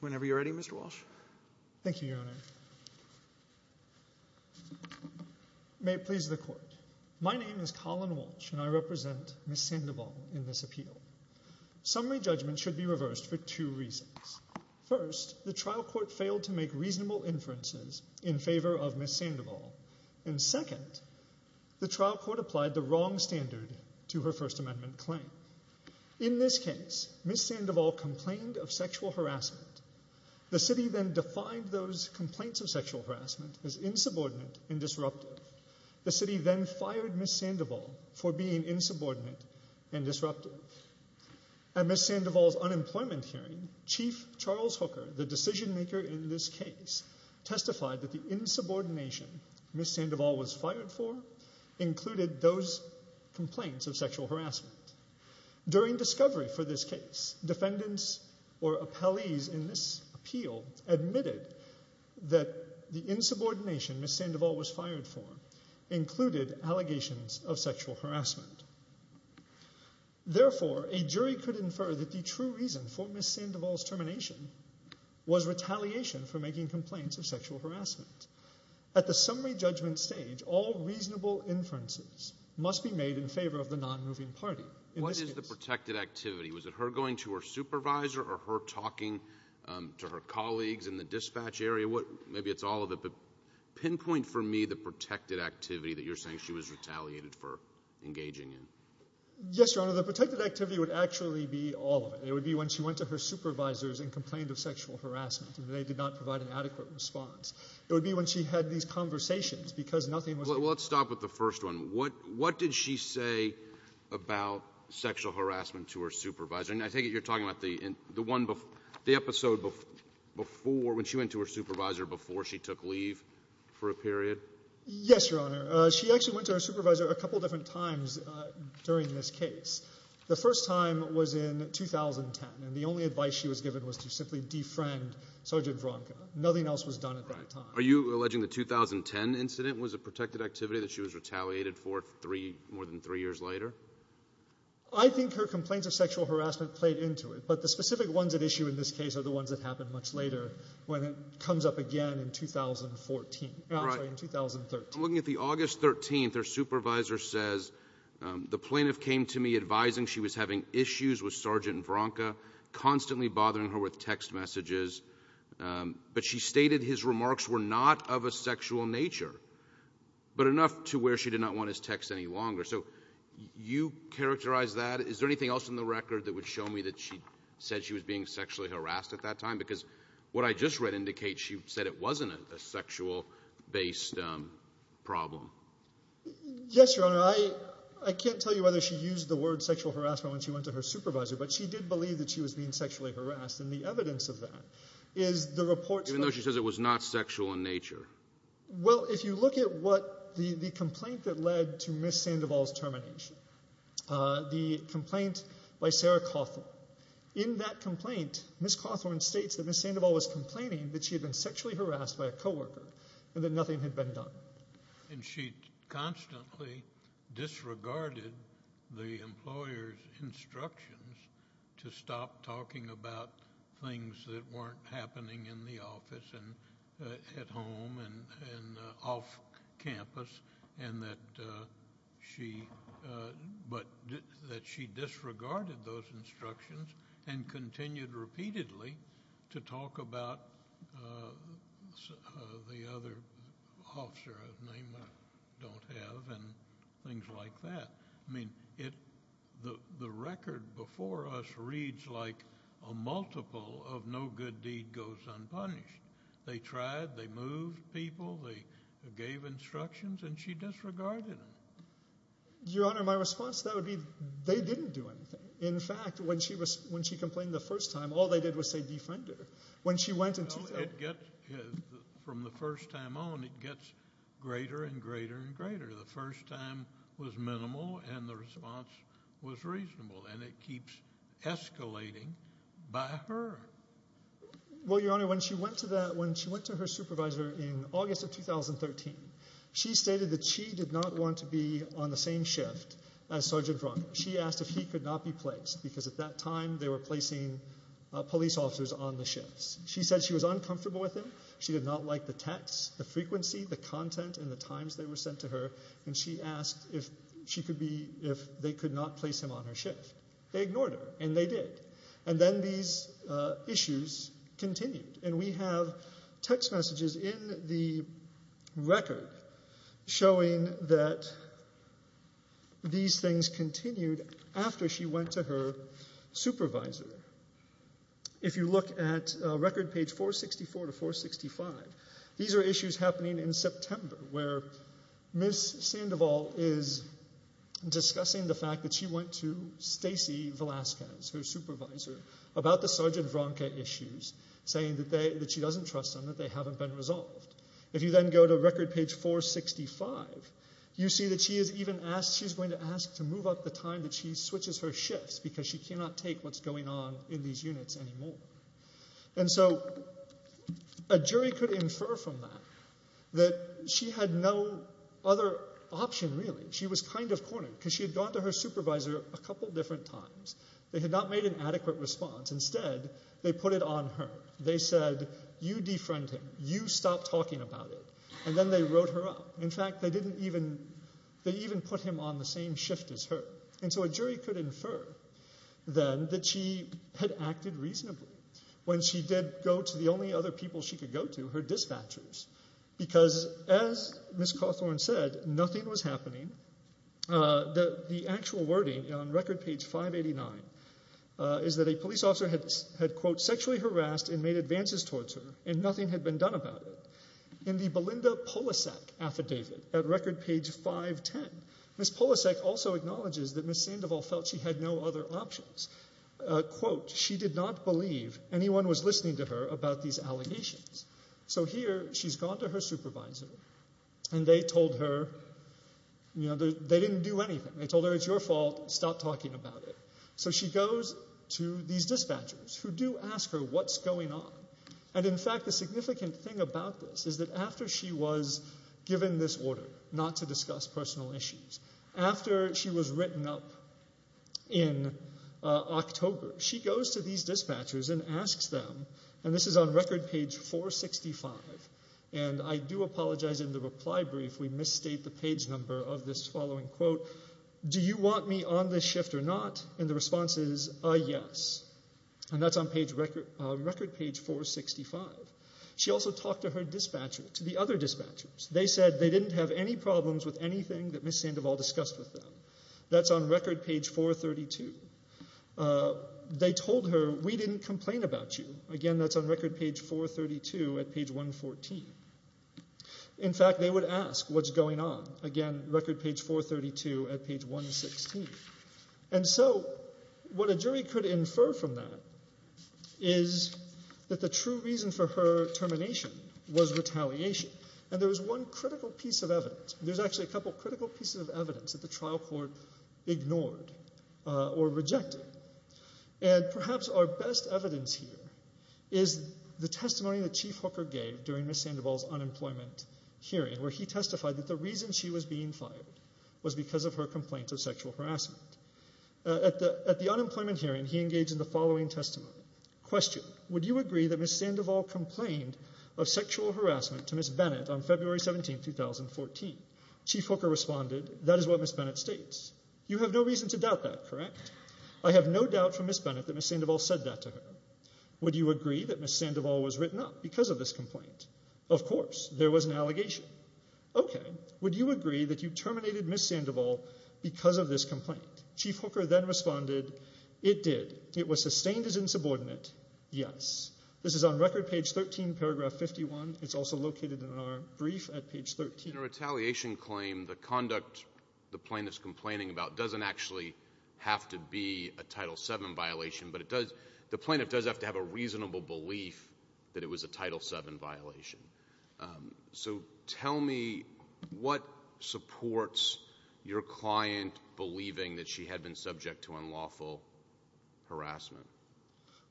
Whenever you're ready, Mr. Walsh. Thank you, Your Honor. May it please the Court. My name is Colin Walsh, and I represent Ms. Sandoval in this appeal. Summary judgment should be reversed for two reasons. First, the trial court failed to make reasonable inferences in favor of Ms. Sandoval. And second, the trial court applied the wrong standard to her First Amendment claim. In this case, Ms. Sandoval complained of sexual harassment. The city then defined those complaints of sexual harassment as insubordinate and disruptive. The city then fired Ms. Sandoval for being insubordinate and disruptive. Also, at Ms. Sandoval's unemployment hearing, Chief Charles Hooker, the decision maker in this case, testified that the insubordination Ms. Sandoval was fired for included those complaints of sexual harassment. During discovery for this case, defendants or appellees in this appeal admitted that the insubordination Ms. Sandoval was fired for included allegations of sexual harassment. Therefore, a jury could infer that the true reason for Ms. Sandoval's termination was retaliation for making complaints of sexual harassment. At the summary judgment stage, all reasonable inferences must be made in favor of the non-moving party. What is the protected activity? Was it her going to her supervisor or her talking to her colleagues in the dispatch area? Maybe it's all of it, but pinpoint for me the protected activity that you're saying she was retaliated for engaging in. Yes, Your Honor, the protected activity would actually be all of it. It would be when she went to her supervisors and complained of sexual harassment and they did not provide an adequate response. It would be when she had these conversations because nothing was— Well, let's stop with the first one. What did she say about sexual harassment to her supervisor? I take it you're talking about the episode before, when she went to her supervisor before she took leave for a period? Yes, Your Honor. She actually went to her supervisor a couple of different times during this case. The first time was in 2010, and the only advice she was given was to simply defriend Sergeant Vronka. Nothing else was done at that time. Are you alleging the 2010 incident was a protected activity that she was retaliated for more than three years later? I think her complaints of sexual harassment played into it, but the specific ones at issue in this case are the ones that happened much later, when it comes up again in 2013. I'm looking at the August 13th. Her supervisor says, the plaintiff came to me advising she was having issues with Sergeant Vronka, constantly bothering her with text messages, but she stated his remarks were not of a sexual nature, but enough to where she did not want his text any longer. So you characterize that? Is there anything else in the record that would show me that she said she was being sexually harassed at that time? Because what I just read indicates she said it wasn't a sexual-based problem. Yes, Your Honor. I can't tell you whether she used the word sexual harassment when she went to her supervisor, but she did believe that she was being sexually harassed, and the evidence of that is the reports from— Even though she says it was not sexual in nature. Well, if you look at what the complaint that led to Ms. Sandoval's termination, the complaint by Sarah Cawthorn. In that complaint, Ms. Cawthorn states that Ms. Sandoval was complaining that she had been sexually harassed by a co-worker and that nothing had been done. And she constantly disregarded the employer's instructions to stop talking about things that weren't happening in the office and at home and off campus, and that she disregarded those instructions and continued repeatedly to talk about the other officer of name I don't have and things like that. I mean, the record before us reads like a multiple of no good deed goes unpunished. They tried, they moved people, they gave instructions, and she disregarded them. Your Honor, my response to that would be they didn't do anything. In fact, when she complained the first time, all they did was say defender. When she went and— No, it gets—from the first time on, it gets greater and greater and greater. The first time was minimal and the response was reasonable, and it keeps escalating by her. Well, Your Honor, when she went to that—when she went to her supervisor in August of 2013, she stated that she did not want to be on the same shift as Sergeant Brunk. She asked if he could not be placed because at that time they were placing police officers on the shifts. She said she was uncomfortable with him. She did not like the text, the frequency, the content, and the times they were sent to her, and she asked if she could be—if they could not place him on her shift. They ignored her, and they did. And then these issues continued, and we have text messages in the record showing that these things continued after she went to her supervisor. If you look at record page 464 to 465, these are issues happening in September where Ms. Sandoval is discussing the fact that she went to Stacy Velasquez, her supervisor, about the Sergeant Brunk issues, saying that she doesn't trust them, that they haven't been resolved. If you then go to record page 465, you see that she is even asked— And so a jury could infer from that that she had no other option, really. She was kind of cornered because she had gone to her supervisor a couple different times. They had not made an adequate response. Instead, they put it on her. They said, you defriend him. You stop talking about it. And then they wrote her up. In fact, they even put him on the same shift as her. And so a jury could infer then that she had acted reasonably when she did go to the only other people she could go to, her dispatchers, because as Ms. Cawthorn said, nothing was happening. The actual wording on record page 589 is that a police officer had, quote, sexually harassed and made advances towards her, and nothing had been done about it. In the Belinda Polasek affidavit at record page 510, Ms. Polasek also acknowledges that Ms. Sandoval felt she had no other options. Quote, she did not believe anyone was listening to her about these allegations. So here she's gone to her supervisor, and they told her, you know, they didn't do anything. They told her, it's your fault. Stop talking about it. So she goes to these dispatchers who do ask her what's going on. And, in fact, the significant thing about this is that after she was given this order, not to discuss personal issues, after she was written up in October, she goes to these dispatchers and asks them, and this is on record page 465, and I do apologize in the reply brief we misstate the page number of this following quote, do you want me on this shift or not? And the response is a yes. And that's on record page 465. She also talked to her dispatcher, to the other dispatchers. They said they didn't have any problems with anything that Ms. Sandoval discussed with them. That's on record page 432. They told her, we didn't complain about you. Again, that's on record page 432 at page 114. In fact, they would ask what's going on. Again, record page 432 at page 116. And so what a jury could infer from that is that the true reason for her termination was retaliation. And there was one critical piece of evidence. There's actually a couple critical pieces of evidence that the trial court ignored or rejected. And perhaps our best evidence here is the testimony that Chief Hooker gave during Ms. Sandoval's unemployment hearing, where he testified that the reason she was being fired was because of her complaints of sexual harassment. At the unemployment hearing, he engaged in the following testimony. Question. Would you agree that Ms. Sandoval complained of sexual harassment to Ms. Bennett on February 17, 2014? Chief Hooker responded, that is what Ms. Bennett states. You have no reason to doubt that, correct? I have no doubt from Ms. Bennett that Ms. Sandoval said that to her. Would you agree that Ms. Sandoval was written up because of this complaint? Of course. There was an allegation. Okay. Would you agree that you terminated Ms. Sandoval because of this complaint? Chief Hooker then responded, it did. It was sustained as insubordinate, yes. This is on record, page 13, paragraph 51. It's also located in our brief at page 13. In a retaliation claim, the conduct the plaintiff's complaining about doesn't actually have to be a Title VII violation, but the plaintiff does have to have a reasonable belief that it was a Title VII violation. So tell me what supports your client believing that she had been subject to unlawful harassment?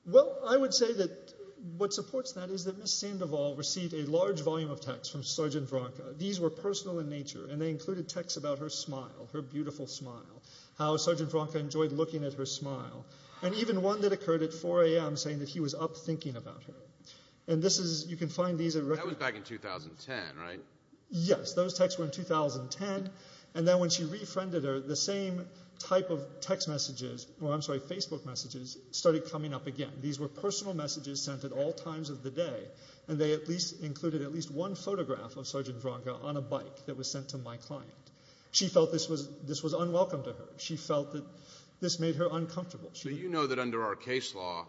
Well, I would say that what supports that is that Ms. Sandoval received a large volume of texts from Sergeant Vranca. These were personal in nature, and they included texts about her smile, her beautiful smile, how Sergeant Vranca enjoyed looking at her smile, and even one that occurred at 4 a.m. saying that he was up thinking about her. That was back in 2010, right? Yes, those texts were in 2010. And then when she refriended her, the same type of Facebook messages started coming up again. These were personal messages sent at all times of the day, and they included at least one photograph of Sergeant Vranca on a bike that was sent to my client. She felt this was unwelcome to her. She felt that this made her uncomfortable. So you know that under our case law,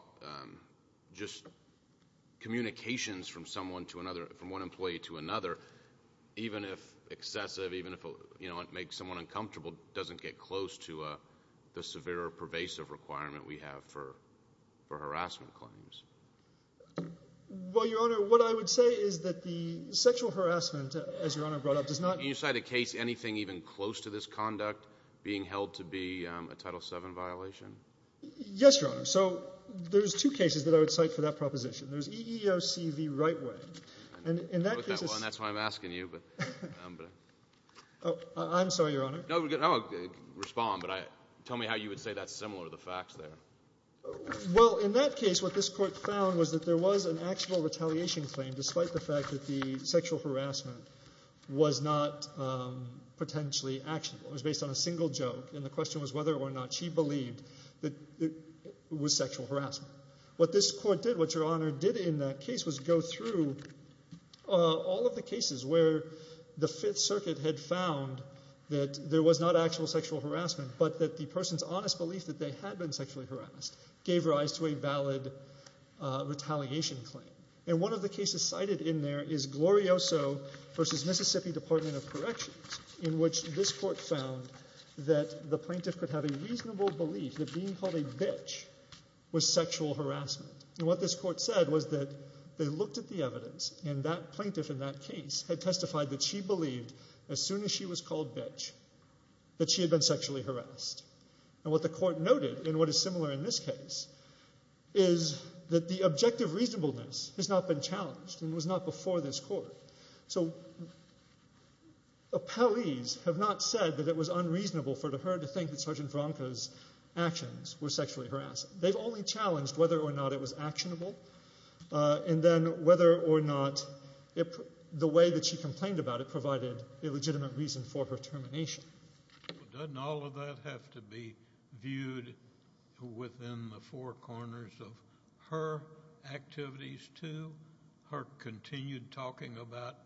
just communications from one employee to another, even if excessive, even if it makes someone uncomfortable, doesn't get close to the severe or pervasive requirement we have for harassment claims? Well, Your Honor, what I would say is that the sexual harassment, as Your Honor brought up, does not— Yes, Your Honor. So there's two cases that I would cite for that proposition. There's EEOC v. Rightway. And in that case— That's why I'm asking you. I'm sorry, Your Honor. Respond, but tell me how you would say that's similar to the facts there. Well, in that case, what this Court found was that there was an actual retaliation claim, despite the fact that the sexual harassment was not potentially actionable. It was based on a single joke, and the question was whether or not she believed that it was sexual harassment. What this Court did, what Your Honor did in that case, was go through all of the cases where the Fifth Circuit had found that there was not actual sexual harassment, but that the person's honest belief that they had been sexually harassed gave rise to a valid retaliation claim. And one of the cases cited in there is Glorioso v. Mississippi Department of Corrections, in which this Court found that the plaintiff could have a reasonable belief that being called a bitch was sexual harassment. And what this Court said was that they looked at the evidence, and that plaintiff in that case had testified that she believed, as soon as she was called bitch, that she had been sexually harassed. And what the Court noted, and what is similar in this case, is that the objective reasonableness has not been challenged and was not before this Court. So, appellees have not said that it was unreasonable for her to think that Sergeant Veronica's actions were sexually harassed. They've only challenged whether or not it was actionable, and then whether or not the way that she complained about it provided a legitimate reason for her termination. Doesn't all of that have to be viewed within the four corners of her activities too, her continued talking about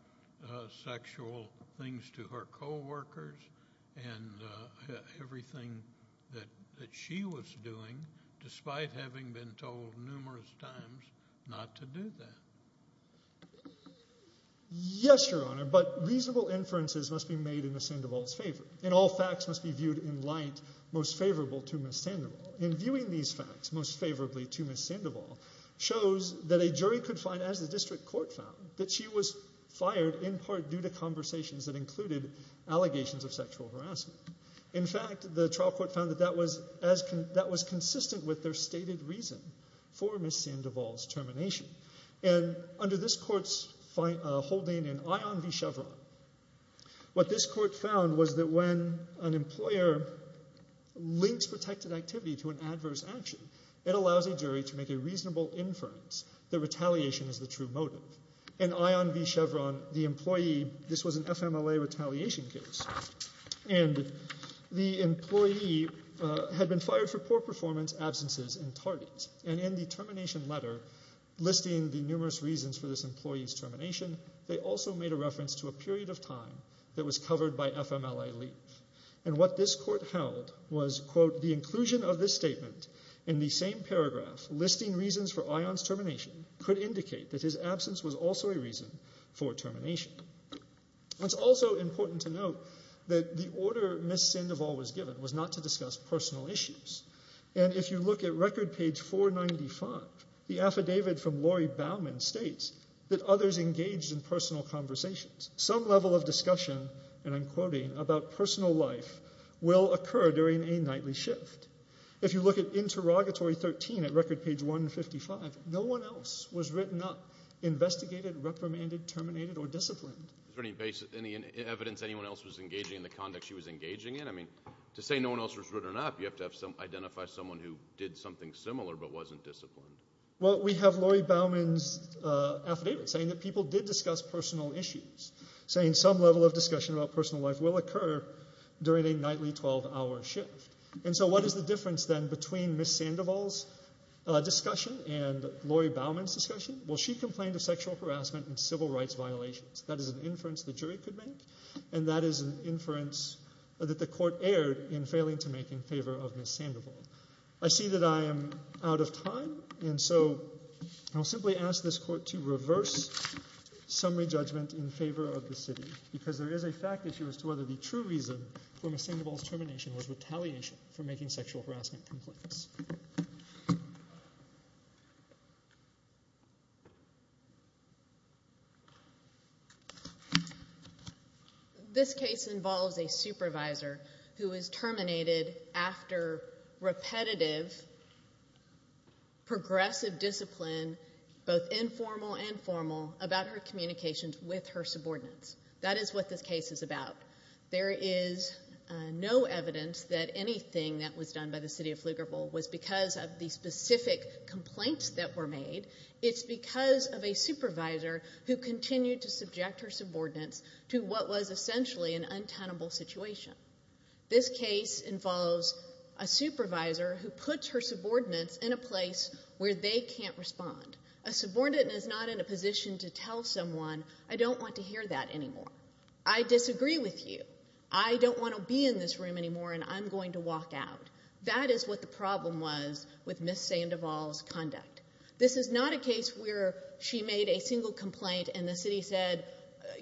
sexual things to her coworkers and everything that she was doing, despite having been told numerous times not to do that? Yes, Your Honor, but reasonable inferences must be made in Ms. Sandoval's favor, and all facts must be viewed in light most favorable to Ms. Sandoval. And viewing these facts most favorably to Ms. Sandoval shows that a jury could find, as the District Court found, that she was fired in part due to conversations that included allegations of sexual harassment. In fact, the trial court found that that was consistent with their stated reason for Ms. Sandoval's termination. And under this Court's holding in Ion v. Chevron, what this Court found was that when an employer links protected activity to an adverse action, it allows a jury to make a reasonable inference that retaliation is the true motive. In Ion v. Chevron, this was an FMLA retaliation case, and the employee had been fired for poor performance, absences, and tardies. And in the termination letter listing the numerous reasons for this employee's termination, they also made a reference to a period of time that was covered by FMLA leave. And what this Court held was, quote, the inclusion of this statement in the same paragraph listing reasons for Ion's termination could indicate that his absence was also a reason for termination. It's also important to note that the order Ms. Sandoval was given was not to discuss personal issues. And if you look at record page 495, the affidavit from Lori Bauman states that others engaged in personal conversations. Some level of discussion, and I'm quoting, about personal life will occur during a nightly shift. If you look at interrogatory 13 at record page 155, no one else was written up, investigated, reprimanded, terminated, or disciplined. Is there any evidence anyone else was engaging in the conduct she was engaging in? I mean, to say no one else was written up, you have to identify someone who did something similar but wasn't disciplined. Well, we have Lori Bauman's affidavit saying that people did discuss personal issues, saying some level of discussion about personal life will occur during a nightly 12-hour shift. And so what is the difference then between Ms. Sandoval's discussion and Lori Bauman's discussion? Well, she complained of sexual harassment and civil rights violations. That is an inference the jury could make, and that is an inference that the Court erred in failing to make in favor of Ms. Sandoval. I see that I am out of time, and so I'll simply ask this Court to reverse summary judgment in favor of the city because there is a fact issue as to whether the true reason for Ms. Sandoval's termination was retaliation for making sexual harassment complaints. Thank you. This case involves a supervisor who is terminated after repetitive, progressive discipline, both informal and formal, about her communications with her subordinates. That is what this case is about. There is no evidence that anything that was done by the city of Pflugerville was because of the specific complaints that were made. It's because of a supervisor who continued to subject her subordinates to what was essentially an untenable situation. This case involves a supervisor who puts her subordinates in a place where they can't respond. A subordinate is not in a position to tell someone, I don't want to hear that anymore. I disagree with you. I don't want to be in this room anymore, and I'm going to walk out. That is what the problem was with Ms. Sandoval's conduct. This is not a case where she made a single complaint and the city said,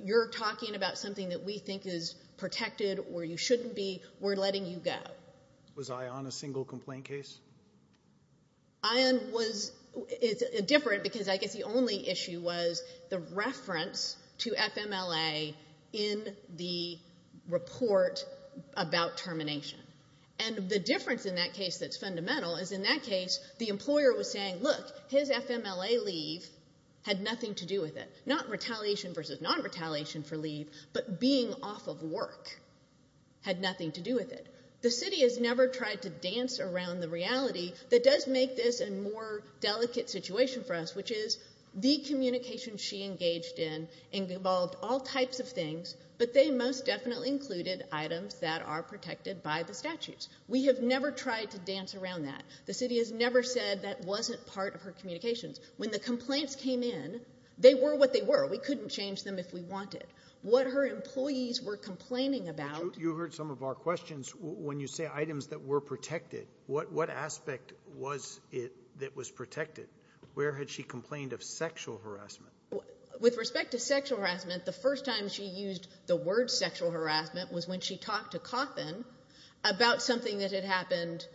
you're talking about something that we think is protected or you shouldn't be, we're letting you go. Was I on a single complaint case? I was different because I guess the only issue was the reference to FMLA in the report about termination. And the difference in that case that's fundamental is in that case the employer was saying, look, his FMLA leave had nothing to do with it. Not retaliation versus non-retaliation for leave, but being off of work had nothing to do with it. The city has never tried to dance around the reality that does make this a more delicate situation for us, which is the communication she engaged in involved all types of things, but they most definitely included items that are protected by the statutes. We have never tried to dance around that. The city has never said that wasn't part of her communications. When the complaints came in, they were what they were. We couldn't change them if we wanted. What her employees were complaining about. You heard some of our questions. When you say items that were protected, what aspect was it that was protected? Where had she complained of sexual harassment? With respect to sexual harassment, the first time she used the word sexual harassment was when she talked to Coffin about something that had happened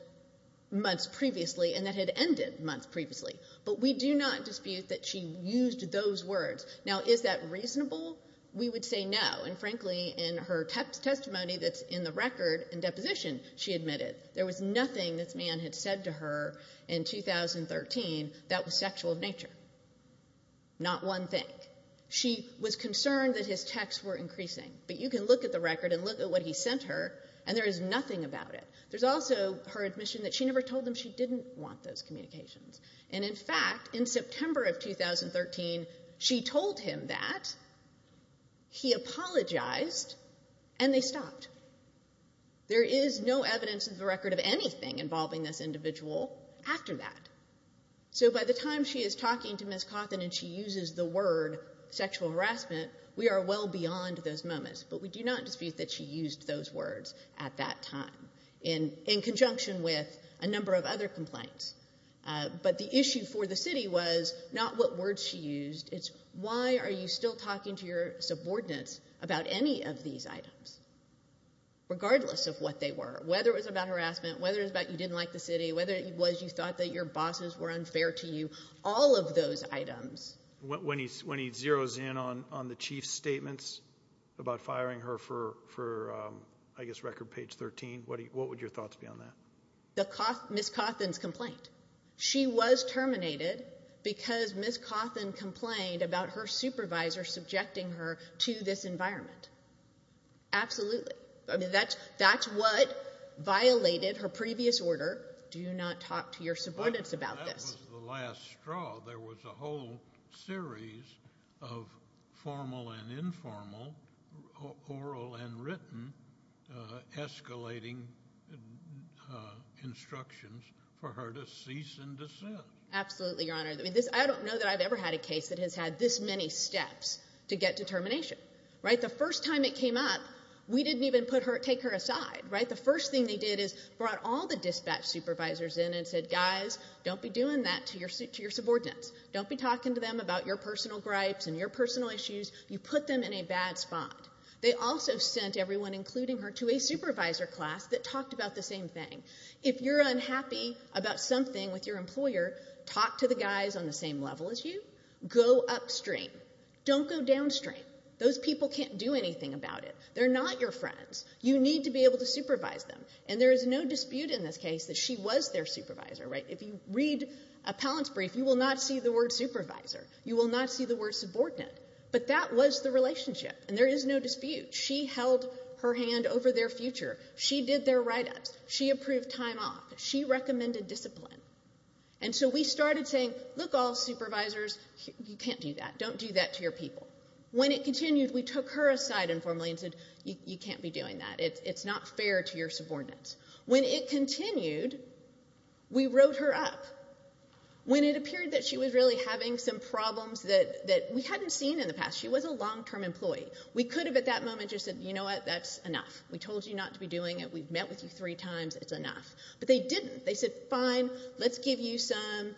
months previously and that had ended months previously. But we do not dispute that she used those words. Now, is that reasonable? We would say no, and frankly, in her testimony that's in the record and deposition, she admitted there was nothing this man had said to her in 2013 that was sexual in nature. Not one thing. She was concerned that his texts were increasing. But you can look at the record and look at what he sent her, and there is nothing about it. There's also her admission that she never told them she didn't want those communications. And, in fact, in September of 2013, she told him that, he apologized, and they stopped. There is no evidence in the record of anything involving this individual after that. So by the time she is talking to Ms. Coffin and she uses the word sexual harassment, we are well beyond those moments. But we do not dispute that she used those words at that time in conjunction with a number of other complaints. But the issue for the city was not what words she used. It's why are you still talking to your subordinates about any of these items, regardless of what they were, whether it was about harassment, whether it was about you didn't like the city, whether it was you thought that your bosses were unfair to you, all of those items. When he zeroes in on the chief's statements about firing her for, I guess, record page 13, what would your thoughts be on that? Ms. Coffin's complaint. She was terminated because Ms. Coffin complained about her supervisor subjecting her to this environment. Absolutely. That's what violated her previous order, do not talk to your subordinates about this. That was the last straw. There was a whole series of formal and informal, oral and written, escalating instructions for her to cease and desist. Absolutely, Your Honor. I don't know that I've ever had a case that has had this many steps to get determination. The first time it came up, we didn't even take her aside. The first thing they did is brought all the dispatch supervisors in and said, guys, don't be doing that to your subordinates. Don't be talking to them about your personal gripes and your personal issues. You put them in a bad spot. They also sent everyone, including her, to a supervisor class that talked about the same thing. If you're unhappy about something with your employer, talk to the guys on the same level as you. Go upstream. Don't go downstream. Those people can't do anything about it. They're not your friends. You need to be able to supervise them. And there is no dispute in this case that she was their supervisor. If you read a palance brief, you will not see the word supervisor. You will not see the word subordinate. But that was the relationship, and there is no dispute. She held her hand over their future. She did their write-ups. She approved time off. She recommended discipline. And so we started saying, look, all supervisors, you can't do that. Don't do that to your people. When it continued, we took her aside informally and said, you can't be doing that. It's not fair to your subordinates. When it continued, we wrote her up. When it appeared that she was really having some problems that we hadn't seen in the past. She was a long-term employee. We could have at that moment just said, you know what, that's enough. We told you not to be doing it. We've met with you three times. It's enough. But they didn't. They said, fine, let's give you some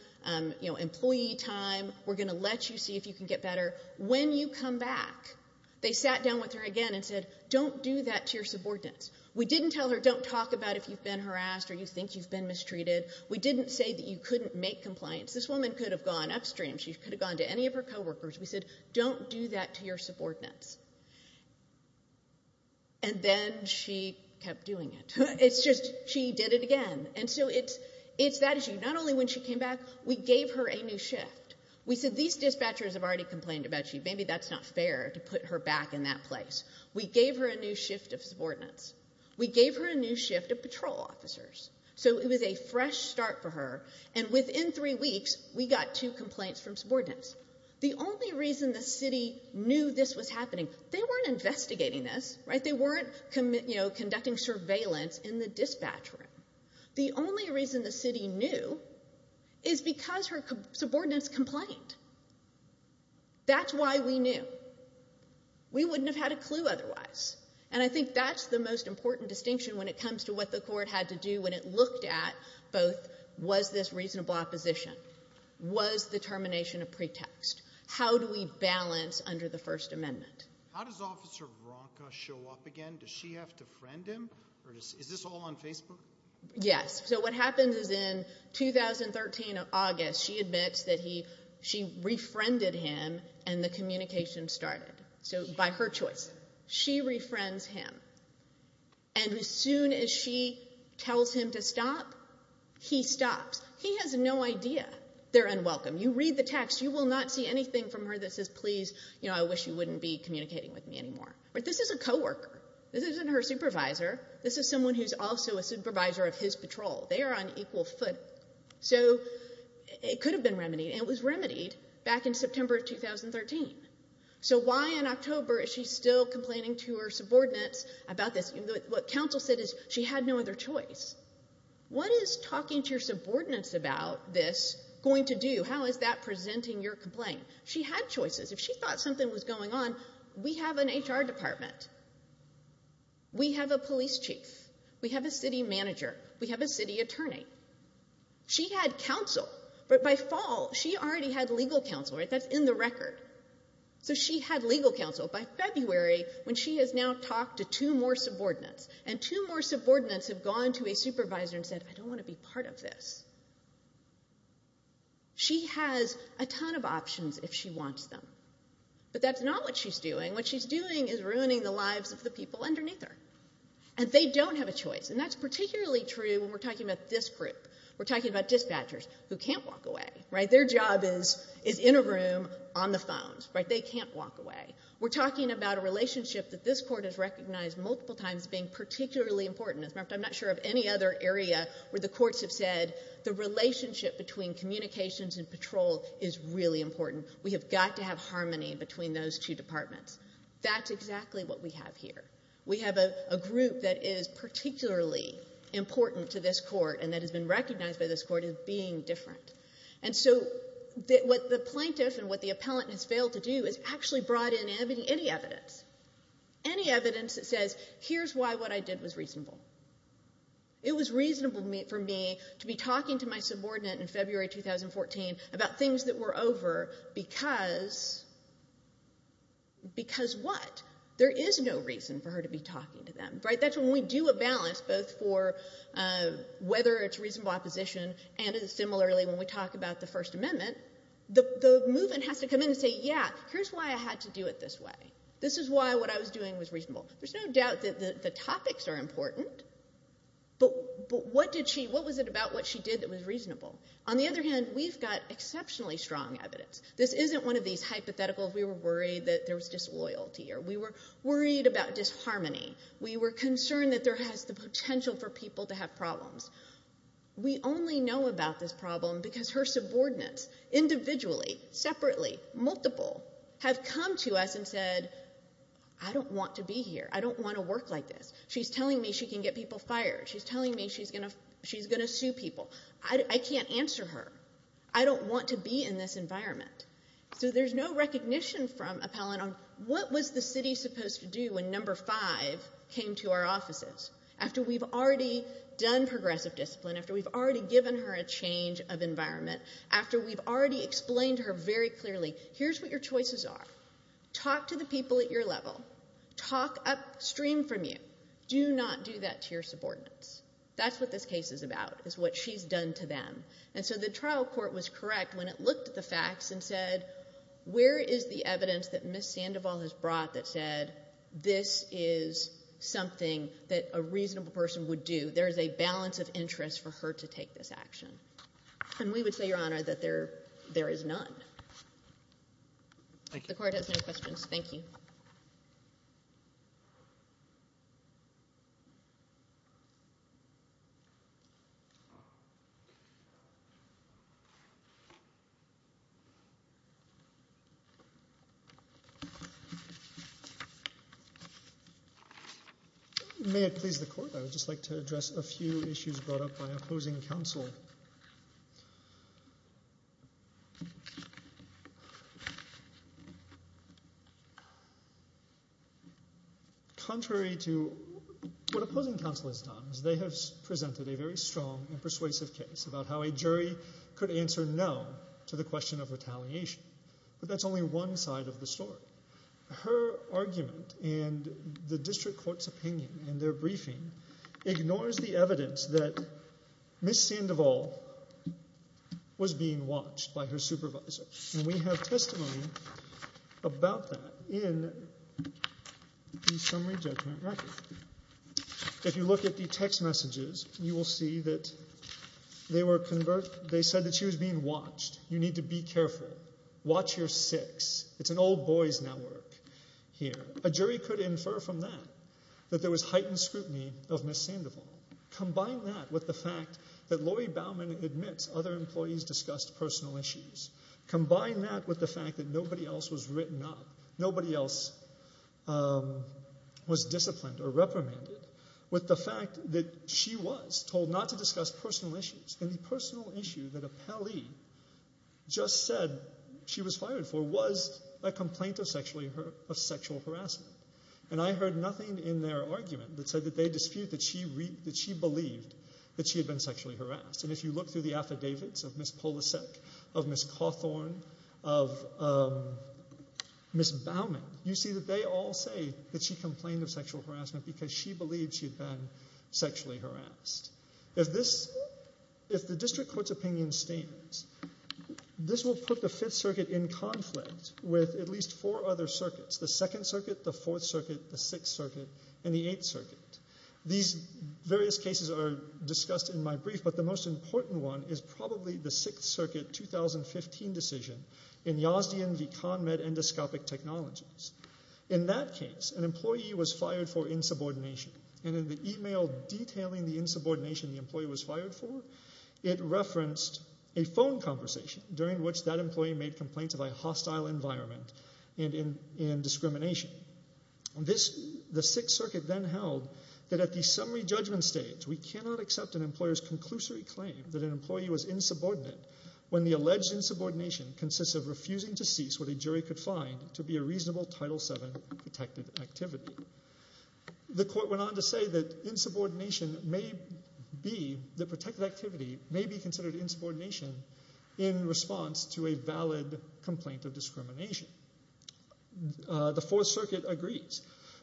employee time. We're going to let you see if you can get better. When you come back, they sat down with her again and said, don't do that to your subordinates. We didn't tell her, don't talk about if you've been harassed or you think you've been mistreated. We didn't say that you couldn't make compliance. This woman could have gone upstream. She could have gone to any of her coworkers. We said, don't do that to your subordinates. And then she kept doing it. It's just she did it again. And so it's that issue. Not only when she came back, we gave her a new shift. We said, these dispatchers have already complained about you. Maybe that's not fair to put her back in that place. We gave her a new shift of subordinates. We gave her a new shift of patrol officers. So it was a fresh start for her. And within three weeks, we got two complaints from subordinates. The only reason the city knew this was happening, they weren't investigating this. They weren't conducting surveillance in the dispatch room. The only reason the city knew is because her subordinates complained. That's why we knew. We wouldn't have had a clue otherwise. And I think that's the most important distinction when it comes to what the court had to do when it looked at both was this reasonable opposition? Was the termination a pretext? How do we balance under the First Amendment? How does Officer Ronca show up again? Does she have to friend him? Is this all on Facebook? Yes. So what happens is in 2013, August, she admits that she refriended him and the communication started by her choice. She refriends him. And as soon as she tells him to stop, he stops. He has no idea. They're unwelcome. You read the text, you will not see anything from her that says, please, I wish you wouldn't be communicating with me anymore. This is a coworker. This isn't her supervisor. This is someone who's also a supervisor of his patrol. They are on equal foot. So it could have been remedied, and it was remedied back in September of 2013. So why in October is she still complaining to her subordinates about this? What counsel said is she had no other choice. What is talking to your subordinates about this going to do? How is that presenting your complaint? She had choices. If she thought something was going on, we have an HR department. We have a police chief. We have a city manager. We have a city attorney. She had counsel. But by fall, she already had legal counsel, right? That's in the record. So she had legal counsel. By February, when she has now talked to two more subordinates, and two more subordinates have gone to a supervisor and said, I don't want to be part of this. She has a ton of options if she wants them. But that's not what she's doing. What she's doing is ruining the lives of the people underneath her. And they don't have a choice. And that's particularly true when we're talking about this group. We're talking about dispatchers who can't walk away, right? Their job is in a room, on the phones, right? They can't walk away. We're talking about a relationship that this court has recognized multiple times as being particularly important. I'm not sure of any other area where the courts have said, the relationship between communications and patrol is really important. We have got to have harmony between those two departments. That's exactly what we have here. We have a group that is particularly important to this court and that has been recognized by this court as being different. And so what the plaintiff and what the appellant has failed to do is actually brought in any evidence, any evidence that says, here's why what I did was reasonable. It was reasonable for me to be talking to my subordinate in February 2014 about things that were over because what? There is no reason for her to be talking to them, right? That's when we do a balance both for whether it's reasonable opposition and similarly when we talk about the First Amendment, the movement has to come in and say, yeah, here's why I had to do it this way. This is why what I was doing was reasonable. There's no doubt that the topics are important, but what was it about what she did that was reasonable? On the other hand, we've got exceptionally strong evidence. This isn't one of these hypotheticals. We were worried that there was disloyalty or we were worried about disharmony. We were concerned that there has the potential for people to have problems. We only know about this problem because her subordinates, individually, separately, multiple, have come to us and said, I don't want to be here. I don't want to work like this. She's telling me she can get people fired. She's telling me she's going to sue people. I can't answer her. I don't want to be in this environment. So there's no recognition from appellant on what was the city supposed to do when number five came to our offices. After we've already done progressive discipline, after we've already given her a change of environment, after we've already explained to her very clearly, here's what your choices are. Talk to the people at your level. Talk upstream from you. Do not do that to your subordinates. That's what this case is about, is what she's done to them. And so the trial court was correct when it looked at the facts and said, where is the evidence that Ms. Sandoval has brought that said, this is something that a reasonable person would do. There is a balance of interest for her to take this action. And we would say, Your Honor, that there is none. The court has no questions. Thank you. May it please the court, I would just like to address a few issues brought up by opposing counsel. Contrary to what opposing counsel has done, they have presented a very strong and persuasive case about how a jury could answer no to the question of retaliation. But that's only one side of the story. Her argument and the district court's opinion in their briefing ignores the evidence that Ms. Sandoval was being watched by her supervisor. And we have testimony about that in the summary judgment record. If you look at the text messages, you will see that they said that she was being watched. You need to be careful. Watch your six. It's an old boys' network here. A jury could infer from that that there was heightened scrutiny of Ms. Sandoval. Combine that with the fact that Laurie Bauman admits other employees discussed personal issues. Combine that with the fact that nobody else was written up, nobody else was disciplined or reprimanded, with the fact that she was told not to discuss personal issues. And the personal issue that a pally just said she was fired for was a complaint of sexual harassment. And I heard nothing in their argument that said that they dispute that she believed that she had been sexually harassed. And if you look through the affidavits of Ms. Polasek, of Ms. Cawthorn, of Ms. Bauman, you see that they all say that she complained of sexual harassment because she believed she had been sexually harassed. If the district court's opinion stands, this will put the 5th Circuit in conflict with at least four other circuits, the 2nd Circuit, the 4th Circuit, the 6th Circuit, and the 8th Circuit. These various cases are discussed in my brief, but the most important one is probably the 6th Circuit 2015 decision in Yazdian v. ConMed Endoscopic Technologies. In that case, an employee was fired for insubordination. And in the email detailing the insubordination the employee was fired for, it referenced a phone conversation during which that employee made complaints of a hostile environment and discrimination. The 6th Circuit then held that at the summary judgment stage, we cannot accept an employer's conclusory claim that an employee was insubordinate when the alleged insubordination consists of refusing to cease what a jury could find to be a reasonable Title VII protected activity. The court went on to say that insubordination may be the protected activity may be considered insubordination in response to a valid complaint of discrimination. The 4th Circuit agrees.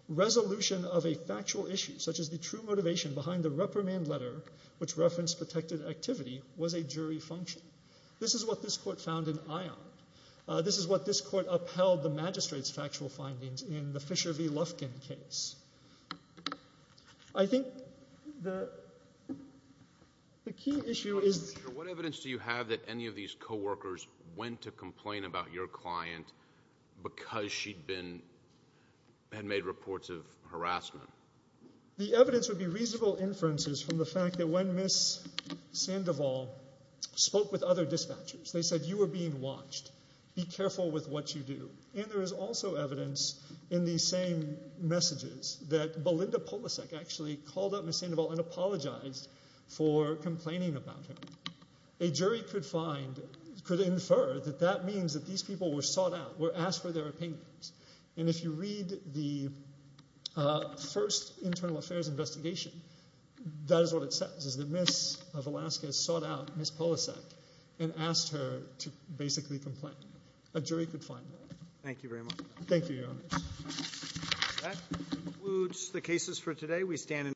Resolution of a factual issue such as the true motivation behind the reprimand letter which referenced protected activity was a jury function. This is what this court found in ION. This is what this court upheld the magistrate's factual findings in the Fisher v. Lufkin case. I think the key issue is... Mr. Fisher, what evidence do you have that any of these coworkers went to complain about your client because she had made reports of harassment? The evidence would be reasonable inferences from the fact that when Ms. Sandoval spoke with other dispatchers, they said you were being watched. Be careful with what you do. And there is also evidence in these same messages that Belinda Polasek actually called up Ms. Sandoval and apologized for complaining about her. A jury could infer that that means that these people were sought out, were asked for their opinions. And if you read the first internal affairs investigation, that is what it says, is that Ms. Velasquez sought out Ms. Polasek and asked her to basically complain. A jury could find that. Thank you very much. Thank you, Your Honor.